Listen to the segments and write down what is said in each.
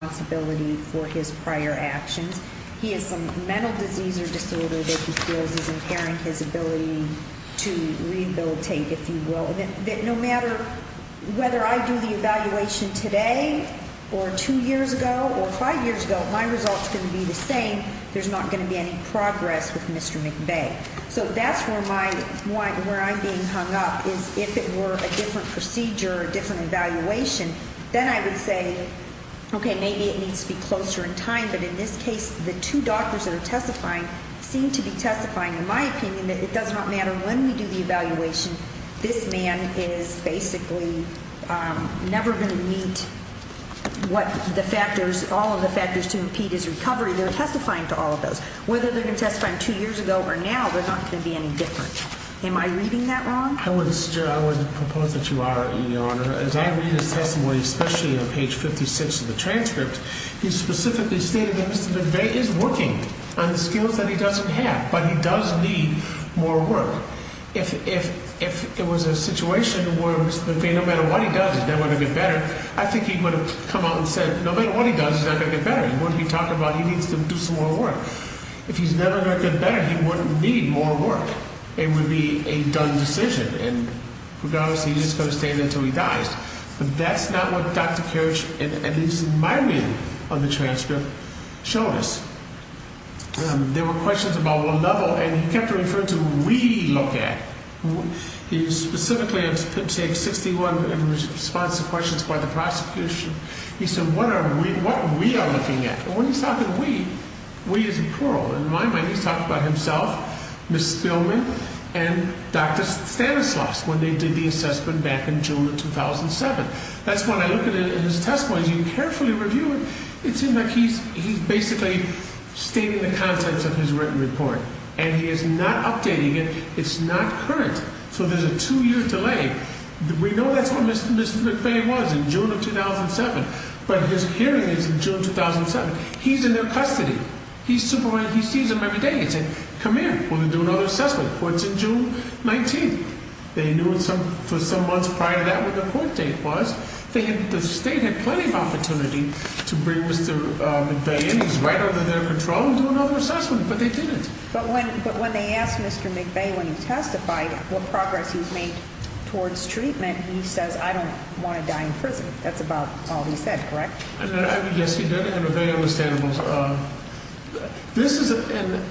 responsibility for his prior actions. He has some mental disease or disorder that he feels is impairing his ability to rehabilitate, if you will. No matter whether I do the evaluation today, or two years ago, or five years ago, my result's going to be the same. There's not going to be any progress with Mr. McVeay. So that's where I'm being hung up, is if it were a different procedure, or a different evaluation, then I would say, okay, maybe it needs to be closer in time, but in this case, the two doctors that are testifying seem to be testifying, in my opinion, that it does not matter when we do the evaluation, this man is basically never going to meet what the factors, all of the factors to impede his recovery. They're testifying to all of those. Whether they're going to testify two years ago or now, they're not going to be any different. Am I reading that wrong? I would propose that you are, Your Honor. As I read his testimony, especially on page 56 of the transcript, he specifically stated that Mr. McVeay is working on the skills that he doesn't have, but he does need more work. If it was a situation where Mr. McVeay, no matter what he does, is never going to get better, I think he would have come out and said, no matter what he does, he's not going to get better. He wouldn't be talking about he needs to do some more work. If he's never going to get better, he wouldn't need more work. It would be a done decision. And regardless, he's just going to stand there until he dies. But that's not what Dr. Kirch and, at least in my reading of the transcript, showed us. There were questions about what level, and he kept referring to what we look at. He specifically in page 61, in response to questions by the prosecution, he said, what are we, what we are looking at. And when he's talking we, we is a plural. In my mind, he's talking about himself, Ms. Spillman, and Dr. Stanislaus, when they did the assessment back in June of 2007. That's when I look at his testimony, as you carefully review it, it seems like he's basically stating the contents of his written report. And he is not updating it. It's not current. So there's a two-year delay. We know that's what Mr. McVeigh was in June of 2007, but his hearing is in June 2007. He's in their custody. He's supervising, he sees them every day. He said, come here, we're going to do another assessment. Well, it's in June 19th. They knew for some months prior to that what the court date was. They had, the state had plenty of opportunity to bring Mr. McVeigh in. He's right under their control and do another assessment, but they didn't. But when, but when they asked Mr. McVeigh, when he testified, what progress he's made towards treatment, he says, I don't want to die in prison. That's about all he said, correct? Yes, he did. I have a very understandable, this is, and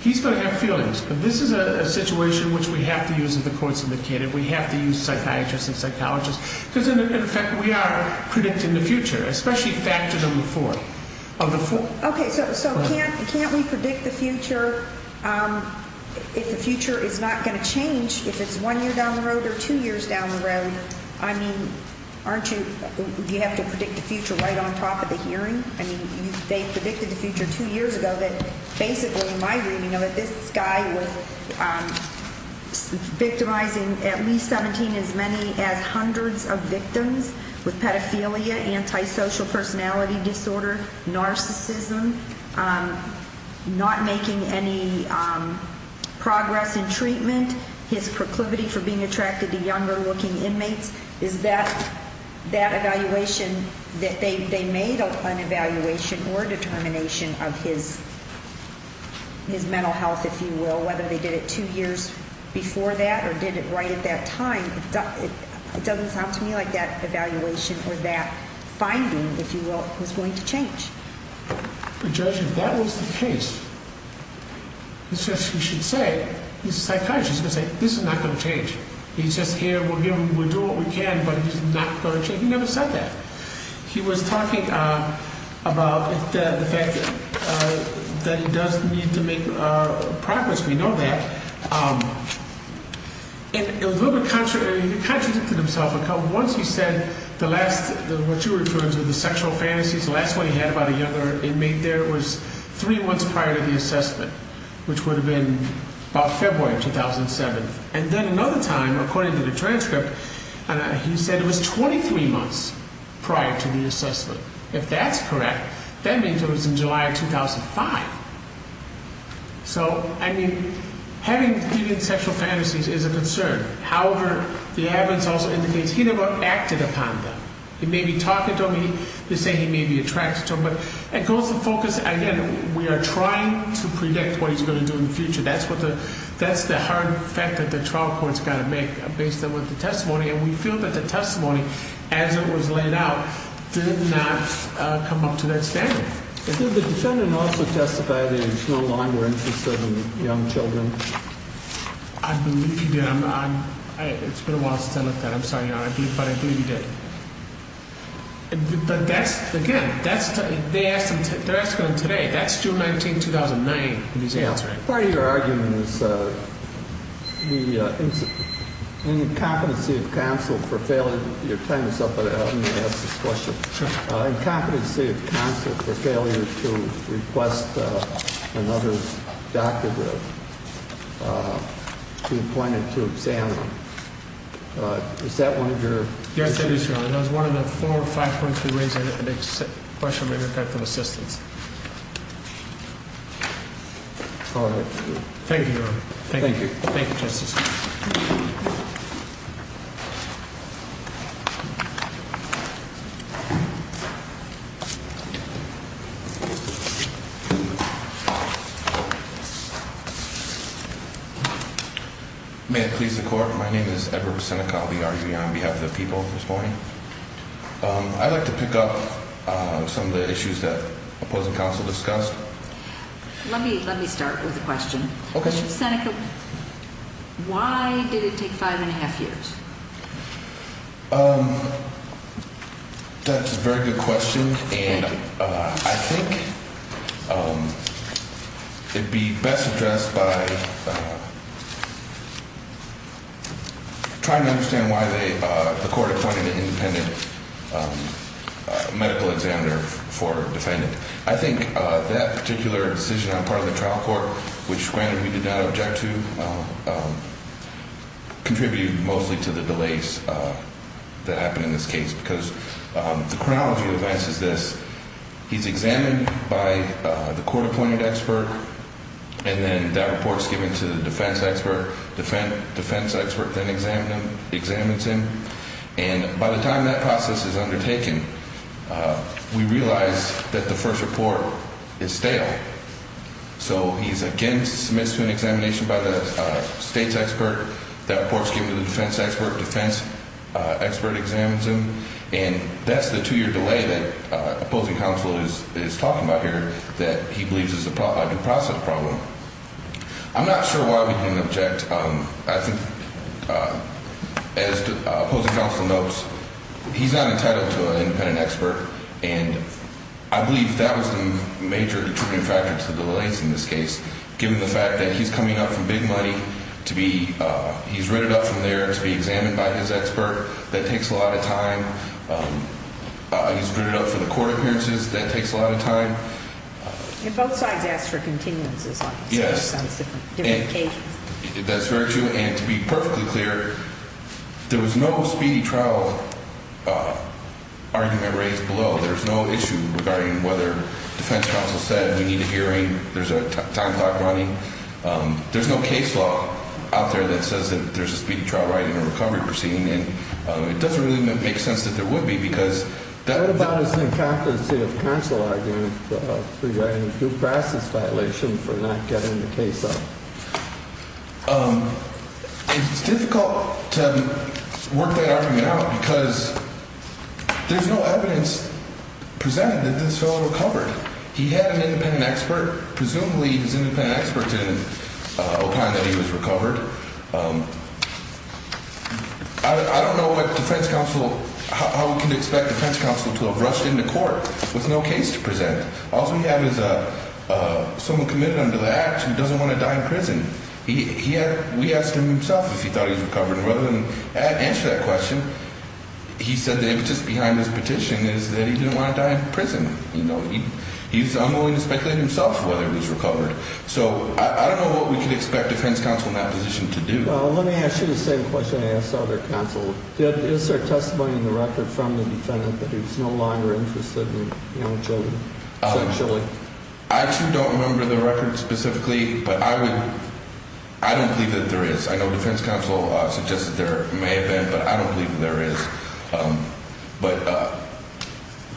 he's going to have feelings, but this is a situation which we have to use in the courts of the kid, and we have to use psychiatrists and psychologists, because in fact, we are predicting the future, especially factor number four of the four. Okay, so can't we predict the future if the future is not going to change if it's one year down the road or two years down the road? I mean, aren't you, do you have to predict the future right on top of the hearing? I mean, they predicted the future two years ago that basically, in my reading of it, this guy was victimizing at least 17 as many as hundreds of victims with pedophilia, antisocial personality disorder, narcissism, not making any progress in treatment, his proclivity for being attracted to younger-looking inmates. Is that evaluation that they made an evaluation or determination of his mental health, if you will, whether they did it two years before that or did it right at that time, it doesn't sound to me like that evaluation or that finding, if you will, was going to change. Judge, if that was the case, he says he should say, he's a psychiatrist, he's going to say, this is not going to change. He says here, we're doing what we can, but it's not going to change. He never said that. He was talking about the fact that he does need to make progress. We know that. He contradicted himself a couple of times. Once he said the last, what you refer to as the sexual fantasies, the last one he had about a younger inmate there was three months prior to the assessment, which would have been about February of 2007. And then another time, according to the transcript, he said it was 23 months prior to the assessment. If that's correct, that means it was in July of 2005. So, I mean, having deviant sexual fantasies is a concern. However, the evidence also indicates he never acted upon them. He may be talking to him, they say he may be attracted to him. But it goes to focus, again, we are trying to predict what he's going to do in the future. That's the hard fact that the trial court's got to make based on the testimony. And we feel that the testimony, as it was laid out, did not come up to that standard. Did the defendant also testify that he's no longer interested in young children? I believe he did. It's been a while since I looked at it. I'm sorry. But I believe he did. But that's, again, they're asking today. That's June 19, 2009, he's answering. Part of your argument is the incompetency of counsel for failing. You're tying this up, but let me ask this question. Sure. Incompetency of counsel for failure to request another doctor to be appointed to examine. Is that one of your? Yes, it is, Your Honor. That was one of the four or five points we raised. I didn't make the question. Maybe I've got some assistance. Thank you, Your Honor. Thank you. Thank you, Justice. May it please the Court? My name is Edward Busenica. I'll be arguing on behalf of the people this morning. I'd like to pick up some of the issues that opposing counsel discussed. Let me start with a question. Okay. Mr. Busenica, why did it take five and a half years? That's a very good question. And I think it'd be best addressed by trying to understand why the court appointed an independent medical examiner for a defendant. I think that particular decision on the part of the trial court, which, granted, we did not object to, contributed mostly to the delays that happened in this case. Because the chronology of events is this. He's examined by the court-appointed expert, and then that report is given to the defense expert. Defense expert then examines him. And by the time that process is undertaken, we realize that the first report is stale. So he's again submitted to an examination by the state's expert. That report is given to the defense expert. Defense expert examines him. And that's the two-year delay that opposing counsel is talking about here that he believes is a due process problem. I'm not sure why we didn't object. I think, as opposing counsel notes, he's not entitled to an independent expert. And I believe that was the major determining factor to the delays in this case, given the fact that he's coming up from big money to be ‑‑ he's rated up from there to be examined by his expert. That takes a lot of time. He's rated up for the court appearances. That takes a lot of time. And both sides ask for continuances on different occasions. That's very true. And to be perfectly clear, there was no speedy trial argument raised below. There's no issue regarding whether defense counsel said we need a hearing. There's a time clock running. There's no case law out there that says that there's a speedy trial right in a recovery proceeding. And it doesn't really make sense that there would be because ‑‑ What was the incumbency of counsel argument regarding due process violation for not getting the case up? It's difficult to work that argument out because there's no evidence presented that this fellow recovered. He had an independent expert. Presumably his independent expert didn't opine that he was recovered. I don't know how we can expect defense counsel to have rushed into court with no case to present. All we have is someone committed under the act who doesn't want to die in prison. We asked him himself if he thought he was recovered. Rather than answer that question, he said that just behind his petition is that he didn't want to die in prison. He's unwilling to speculate himself whether he was recovered. So I don't know what we can expect defense counsel in that position to do. Let me ask you the same question I asked other counsel. Is there testimony in the record from the defendant that he's no longer interested in children sexually? I actually don't remember the record specifically, but I would ‑‑ I don't believe that there is. I know defense counsel suggested there may have been, but I don't believe there is. But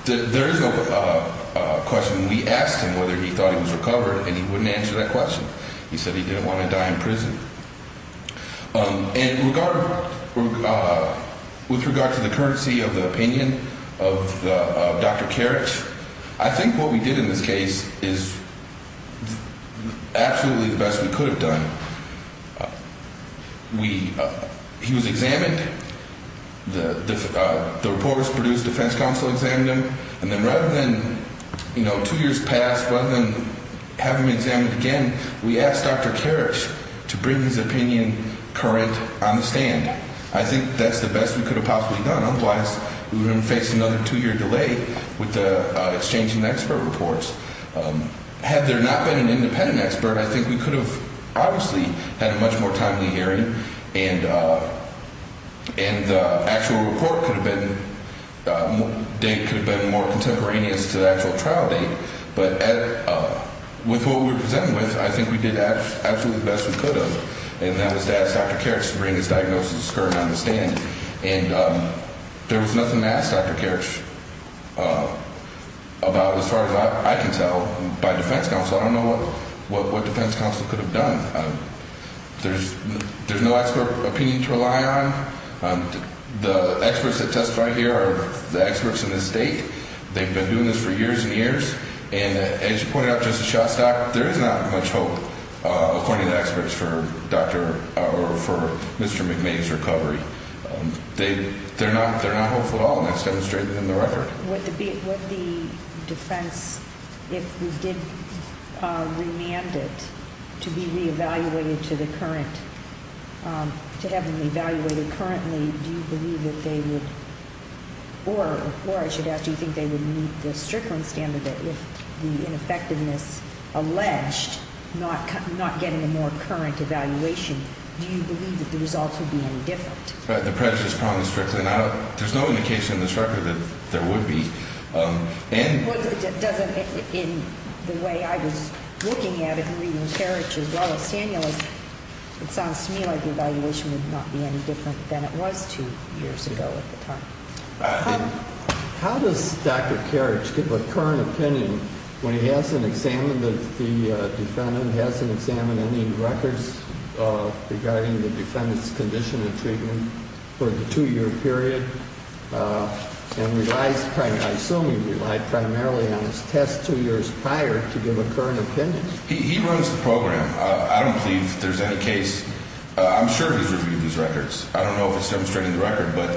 there is a question. We asked him whether he thought he was recovered, and he wouldn't answer that question. He said he didn't want to die in prison. And with regard to the courtesy of the opinion of Dr. Karich, I think what we did in this case is absolutely the best we could have done. We ‑‑ he was examined. The reporters produced defense counsel examined him. And then rather than, you know, two years passed, rather than have him examined again, we asked Dr. Karich to bring his opinion current on the stand. I think that's the best we could have possibly done. Otherwise, we would have faced another two‑year delay with the exchange and expert reports. Had there not been an independent expert, I think we could have obviously had a much more timely hearing. And the actual report could have been ‑‑ date could have been more contemporaneous to the actual trial date. But with what we were presented with, I think we did absolutely the best we could have. And that was to ask Dr. Karich to bring his diagnosis current on the stand. And there was nothing to ask Dr. Karich about as far as I can tell by defense counsel. I don't know what defense counsel could have done. There's no expert opinion to rely on. The experts that testify here are the experts in this state. And as you pointed out, Justice Shostak, there is not much hope, according to the experts, for Dr. or for Mr. McMahon's recovery. They're not hopeful at all, and that's demonstrated in the record. Would the defense, if we did remand it to be re‑evaluated to the current, to have them re‑evaluated currently, do you believe that they would ‑‑ or I should ask, do you think they would meet the Strickland standard if the ineffectiveness alleged, not getting a more current evaluation, do you believe that the results would be any different? The prejudice problem is Strickland. There's no indication in this record that there would be. Well, it doesn't, in the way I was looking at it and reading Karich as well as Daniel, it sounds to me like the evaluation would not be any different than it was two years ago at the time. How does Dr. Karich give a current opinion when he hasn't examined the defendant, hasn't examined any records regarding the defendant's condition and treatment for the two‑year period and relies, I assume he relied primarily on his test two years prior to give a current opinion? He runs the program. I don't believe there's any case. I'm sure he's reviewed these records. I don't know if it's demonstrated in the record, but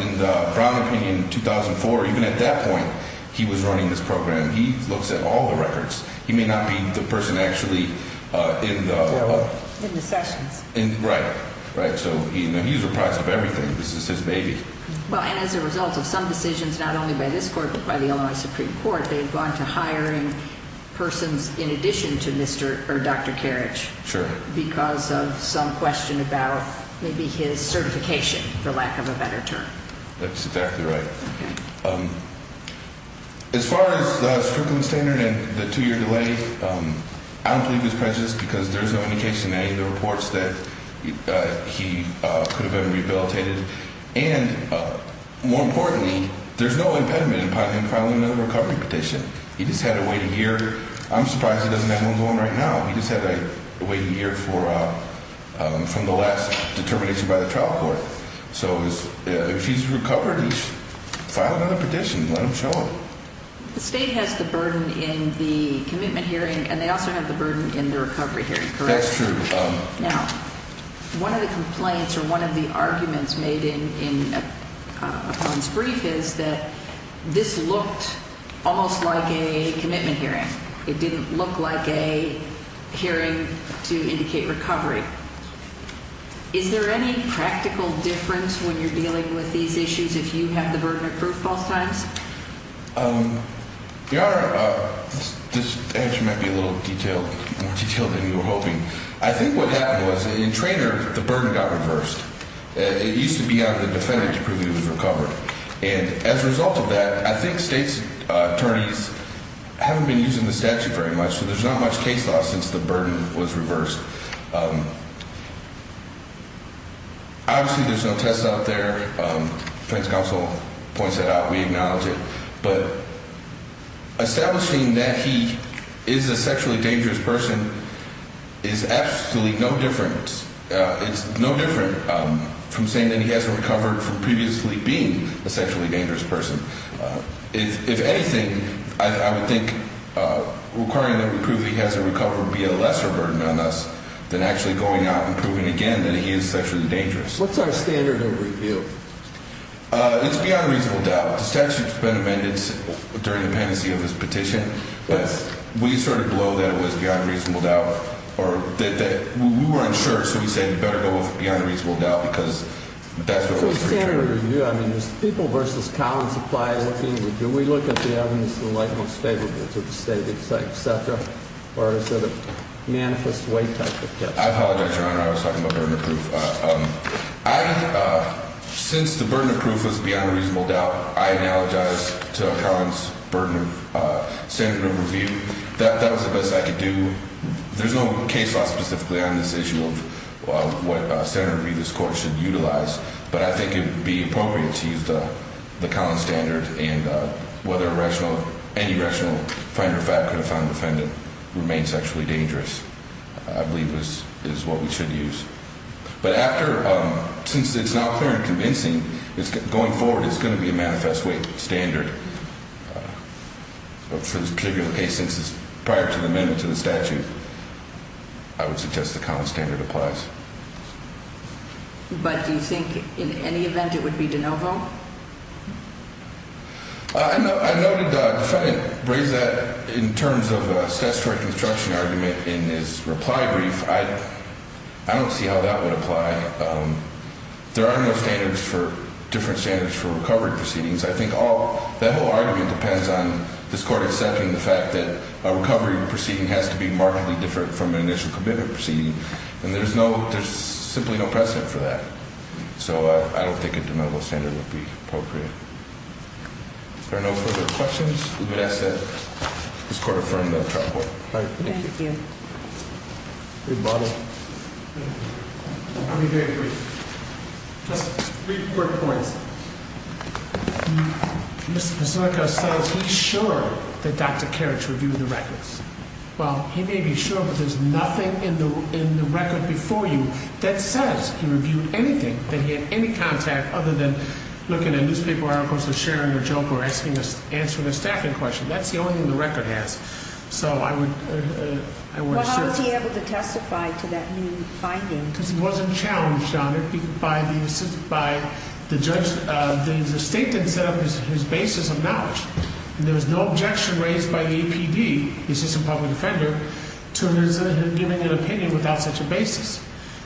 in the Brown opinion in 2004, even at that point he was running this program, he looks at all the records. He may not be the person actually in the ‑‑ In the sessions. Right, right. So he's reprised of everything. This is his baby. Well, and as a result of some decisions not only by this court but by the Illinois Supreme Court, they've gone to hiring persons in addition to Mr. or Dr. Karich. Sure. Because of some question about maybe his certification, for lack of a better term. That's exactly right. As far as the Strickland standard and the two‑year delay, I don't believe it's prejudiced because there's no indication in any of the reports that he could have been rehabilitated. And more importantly, there's no impediment upon him filing another recovery petition. He just had to wait a year. I'm surprised he doesn't have one going right now. He just had to wait a year from the last determination by the trial court. So if he's recovered, he should file another petition and let them show him. The state has the burden in the commitment hearing, and they also have the burden in the recovery hearing, correct? That's true. Now, one of the complaints or one of the arguments made in Apon's brief is that this looked almost like a commitment hearing. It didn't look like a hearing to indicate recovery. Is there any practical difference when you're dealing with these issues if you have the burden of proof both times? Your Honor, this answer might be a little more detailed than you were hoping. I think what happened was in Traynor, the burden got reversed. It used to be on the defendant to prove he was recovered. And as a result of that, I think state attorneys haven't been using the statute very much, so there's not much case law since the burden was reversed. Obviously, there's no test out there. The defense counsel points that out. We acknowledge it. But establishing that he is a sexually dangerous person is absolutely no different. It's no different from saying that he hasn't recovered from previously being a sexually dangerous person. If anything, I would think requiring them to prove he hasn't recovered would be a lesser burden on us than actually going out and proving again that he is sexually dangerous. What's our standard of review? It's beyond reasonable doubt. The statute's been amended during the pendency of his petition, but we sort of blow that it was beyond reasonable doubt. We were unsure, so we said you better go with beyond reasonable doubt because that's what was returned. So standard of review, I mean, is people versus cow and supply looking? Do we look at the evidence and like most favorable to the state, et cetera? Or is it a manifest way type of test? I apologize, Your Honor. I was talking about burden of proof. Since the burden of proof was beyond reasonable doubt, I apologize to Collin's burden of standard of review. That was the best I could do. There's no case law specifically on this issue of what standard of review this court should utilize, but I think it would be appropriate to use the Collin standard, and whether any rational finder of fact could have found the defendant remains sexually dangerous I believe is what we should use. But after, since it's now clear and convincing, going forward it's going to be a manifest weight standard for this particular case since it's prior to the amendment to the statute, I would suggest the Collin standard applies. But do you think in any event it would be de novo? I noted the defendant raised that in terms of statutory construction argument in his reply brief. I don't see how that would apply. There are no standards for, different standards for recovery proceedings. I think that whole argument depends on this court accepting the fact that a recovery proceeding has to be markedly different from an initial commitment proceeding. And there's simply no precedent for that. So I don't think a de novo standard would be appropriate. Are there no further questions? We would ask that this court affirm the trial court. Thank you. Rebuttal. I'll be very brief. Just three quick points. Mr. Pazurka says he's sure that Dr. Kerich reviewed the records. Well, he may be sure, but there's nothing in the record before you that says he reviewed anything, that he had any contact other than looking at newspaper articles or sharing a joke or answering a staffing question. That's the only thing the record has. Well, how was he able to testify to that new finding? Because he wasn't challenged on it by the judge. The state didn't set up his basis of knowledge. And there was no objection raised by the APD, the assistant public defender, to him giving an opinion without such a basis.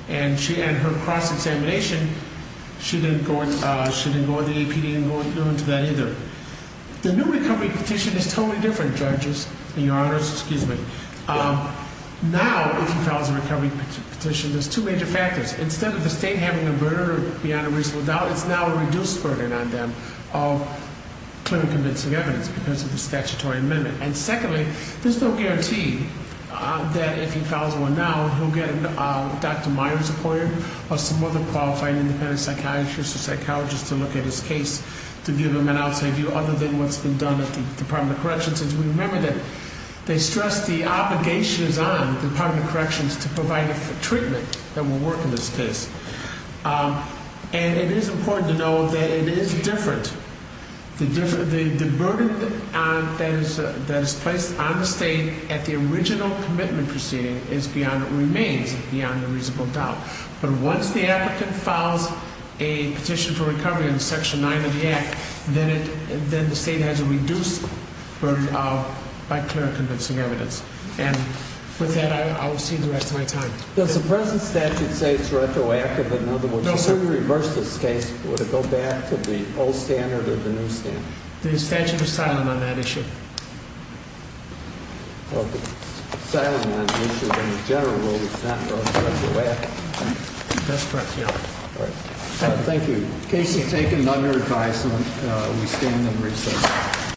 And her cross-examination, she didn't go to the APD and go into that either. The new recovery petition is totally different, judges. Now, if he files a recovery petition, there's two major factors. Instead of the state having a burden beyond a reasonable doubt, it's now a reduced burden on them of clear and convincing evidence because of the statutory amendment. And secondly, there's no guarantee that if he files one now, he'll get a Dr. Myers lawyer or some other qualified independent psychiatrist or psychologist to look at his case to give him an outside view other than what's been done at the Department of Corrections. We remember that they stress the obligations on the Department of Corrections to provide treatment that will work in this case. And it is important to know that it is different. The burden that is placed on the state at the original commitment proceeding remains beyond a reasonable doubt. But once the applicant files a petition for recovery in Section 9 of the Act, then the state has a reduced burden by clear and convincing evidence. And with that, I will see you the rest of my time. Does the present statute say it's retroactive? In other words, if you reverse this case, would it go back to the old standard or the new standard? The statute is silent on that issue. Well, it's silent on the issue, but in general, it's not retroactive. That's correct, yeah. All right. Thank you. In case you take another advice, we stand in recess.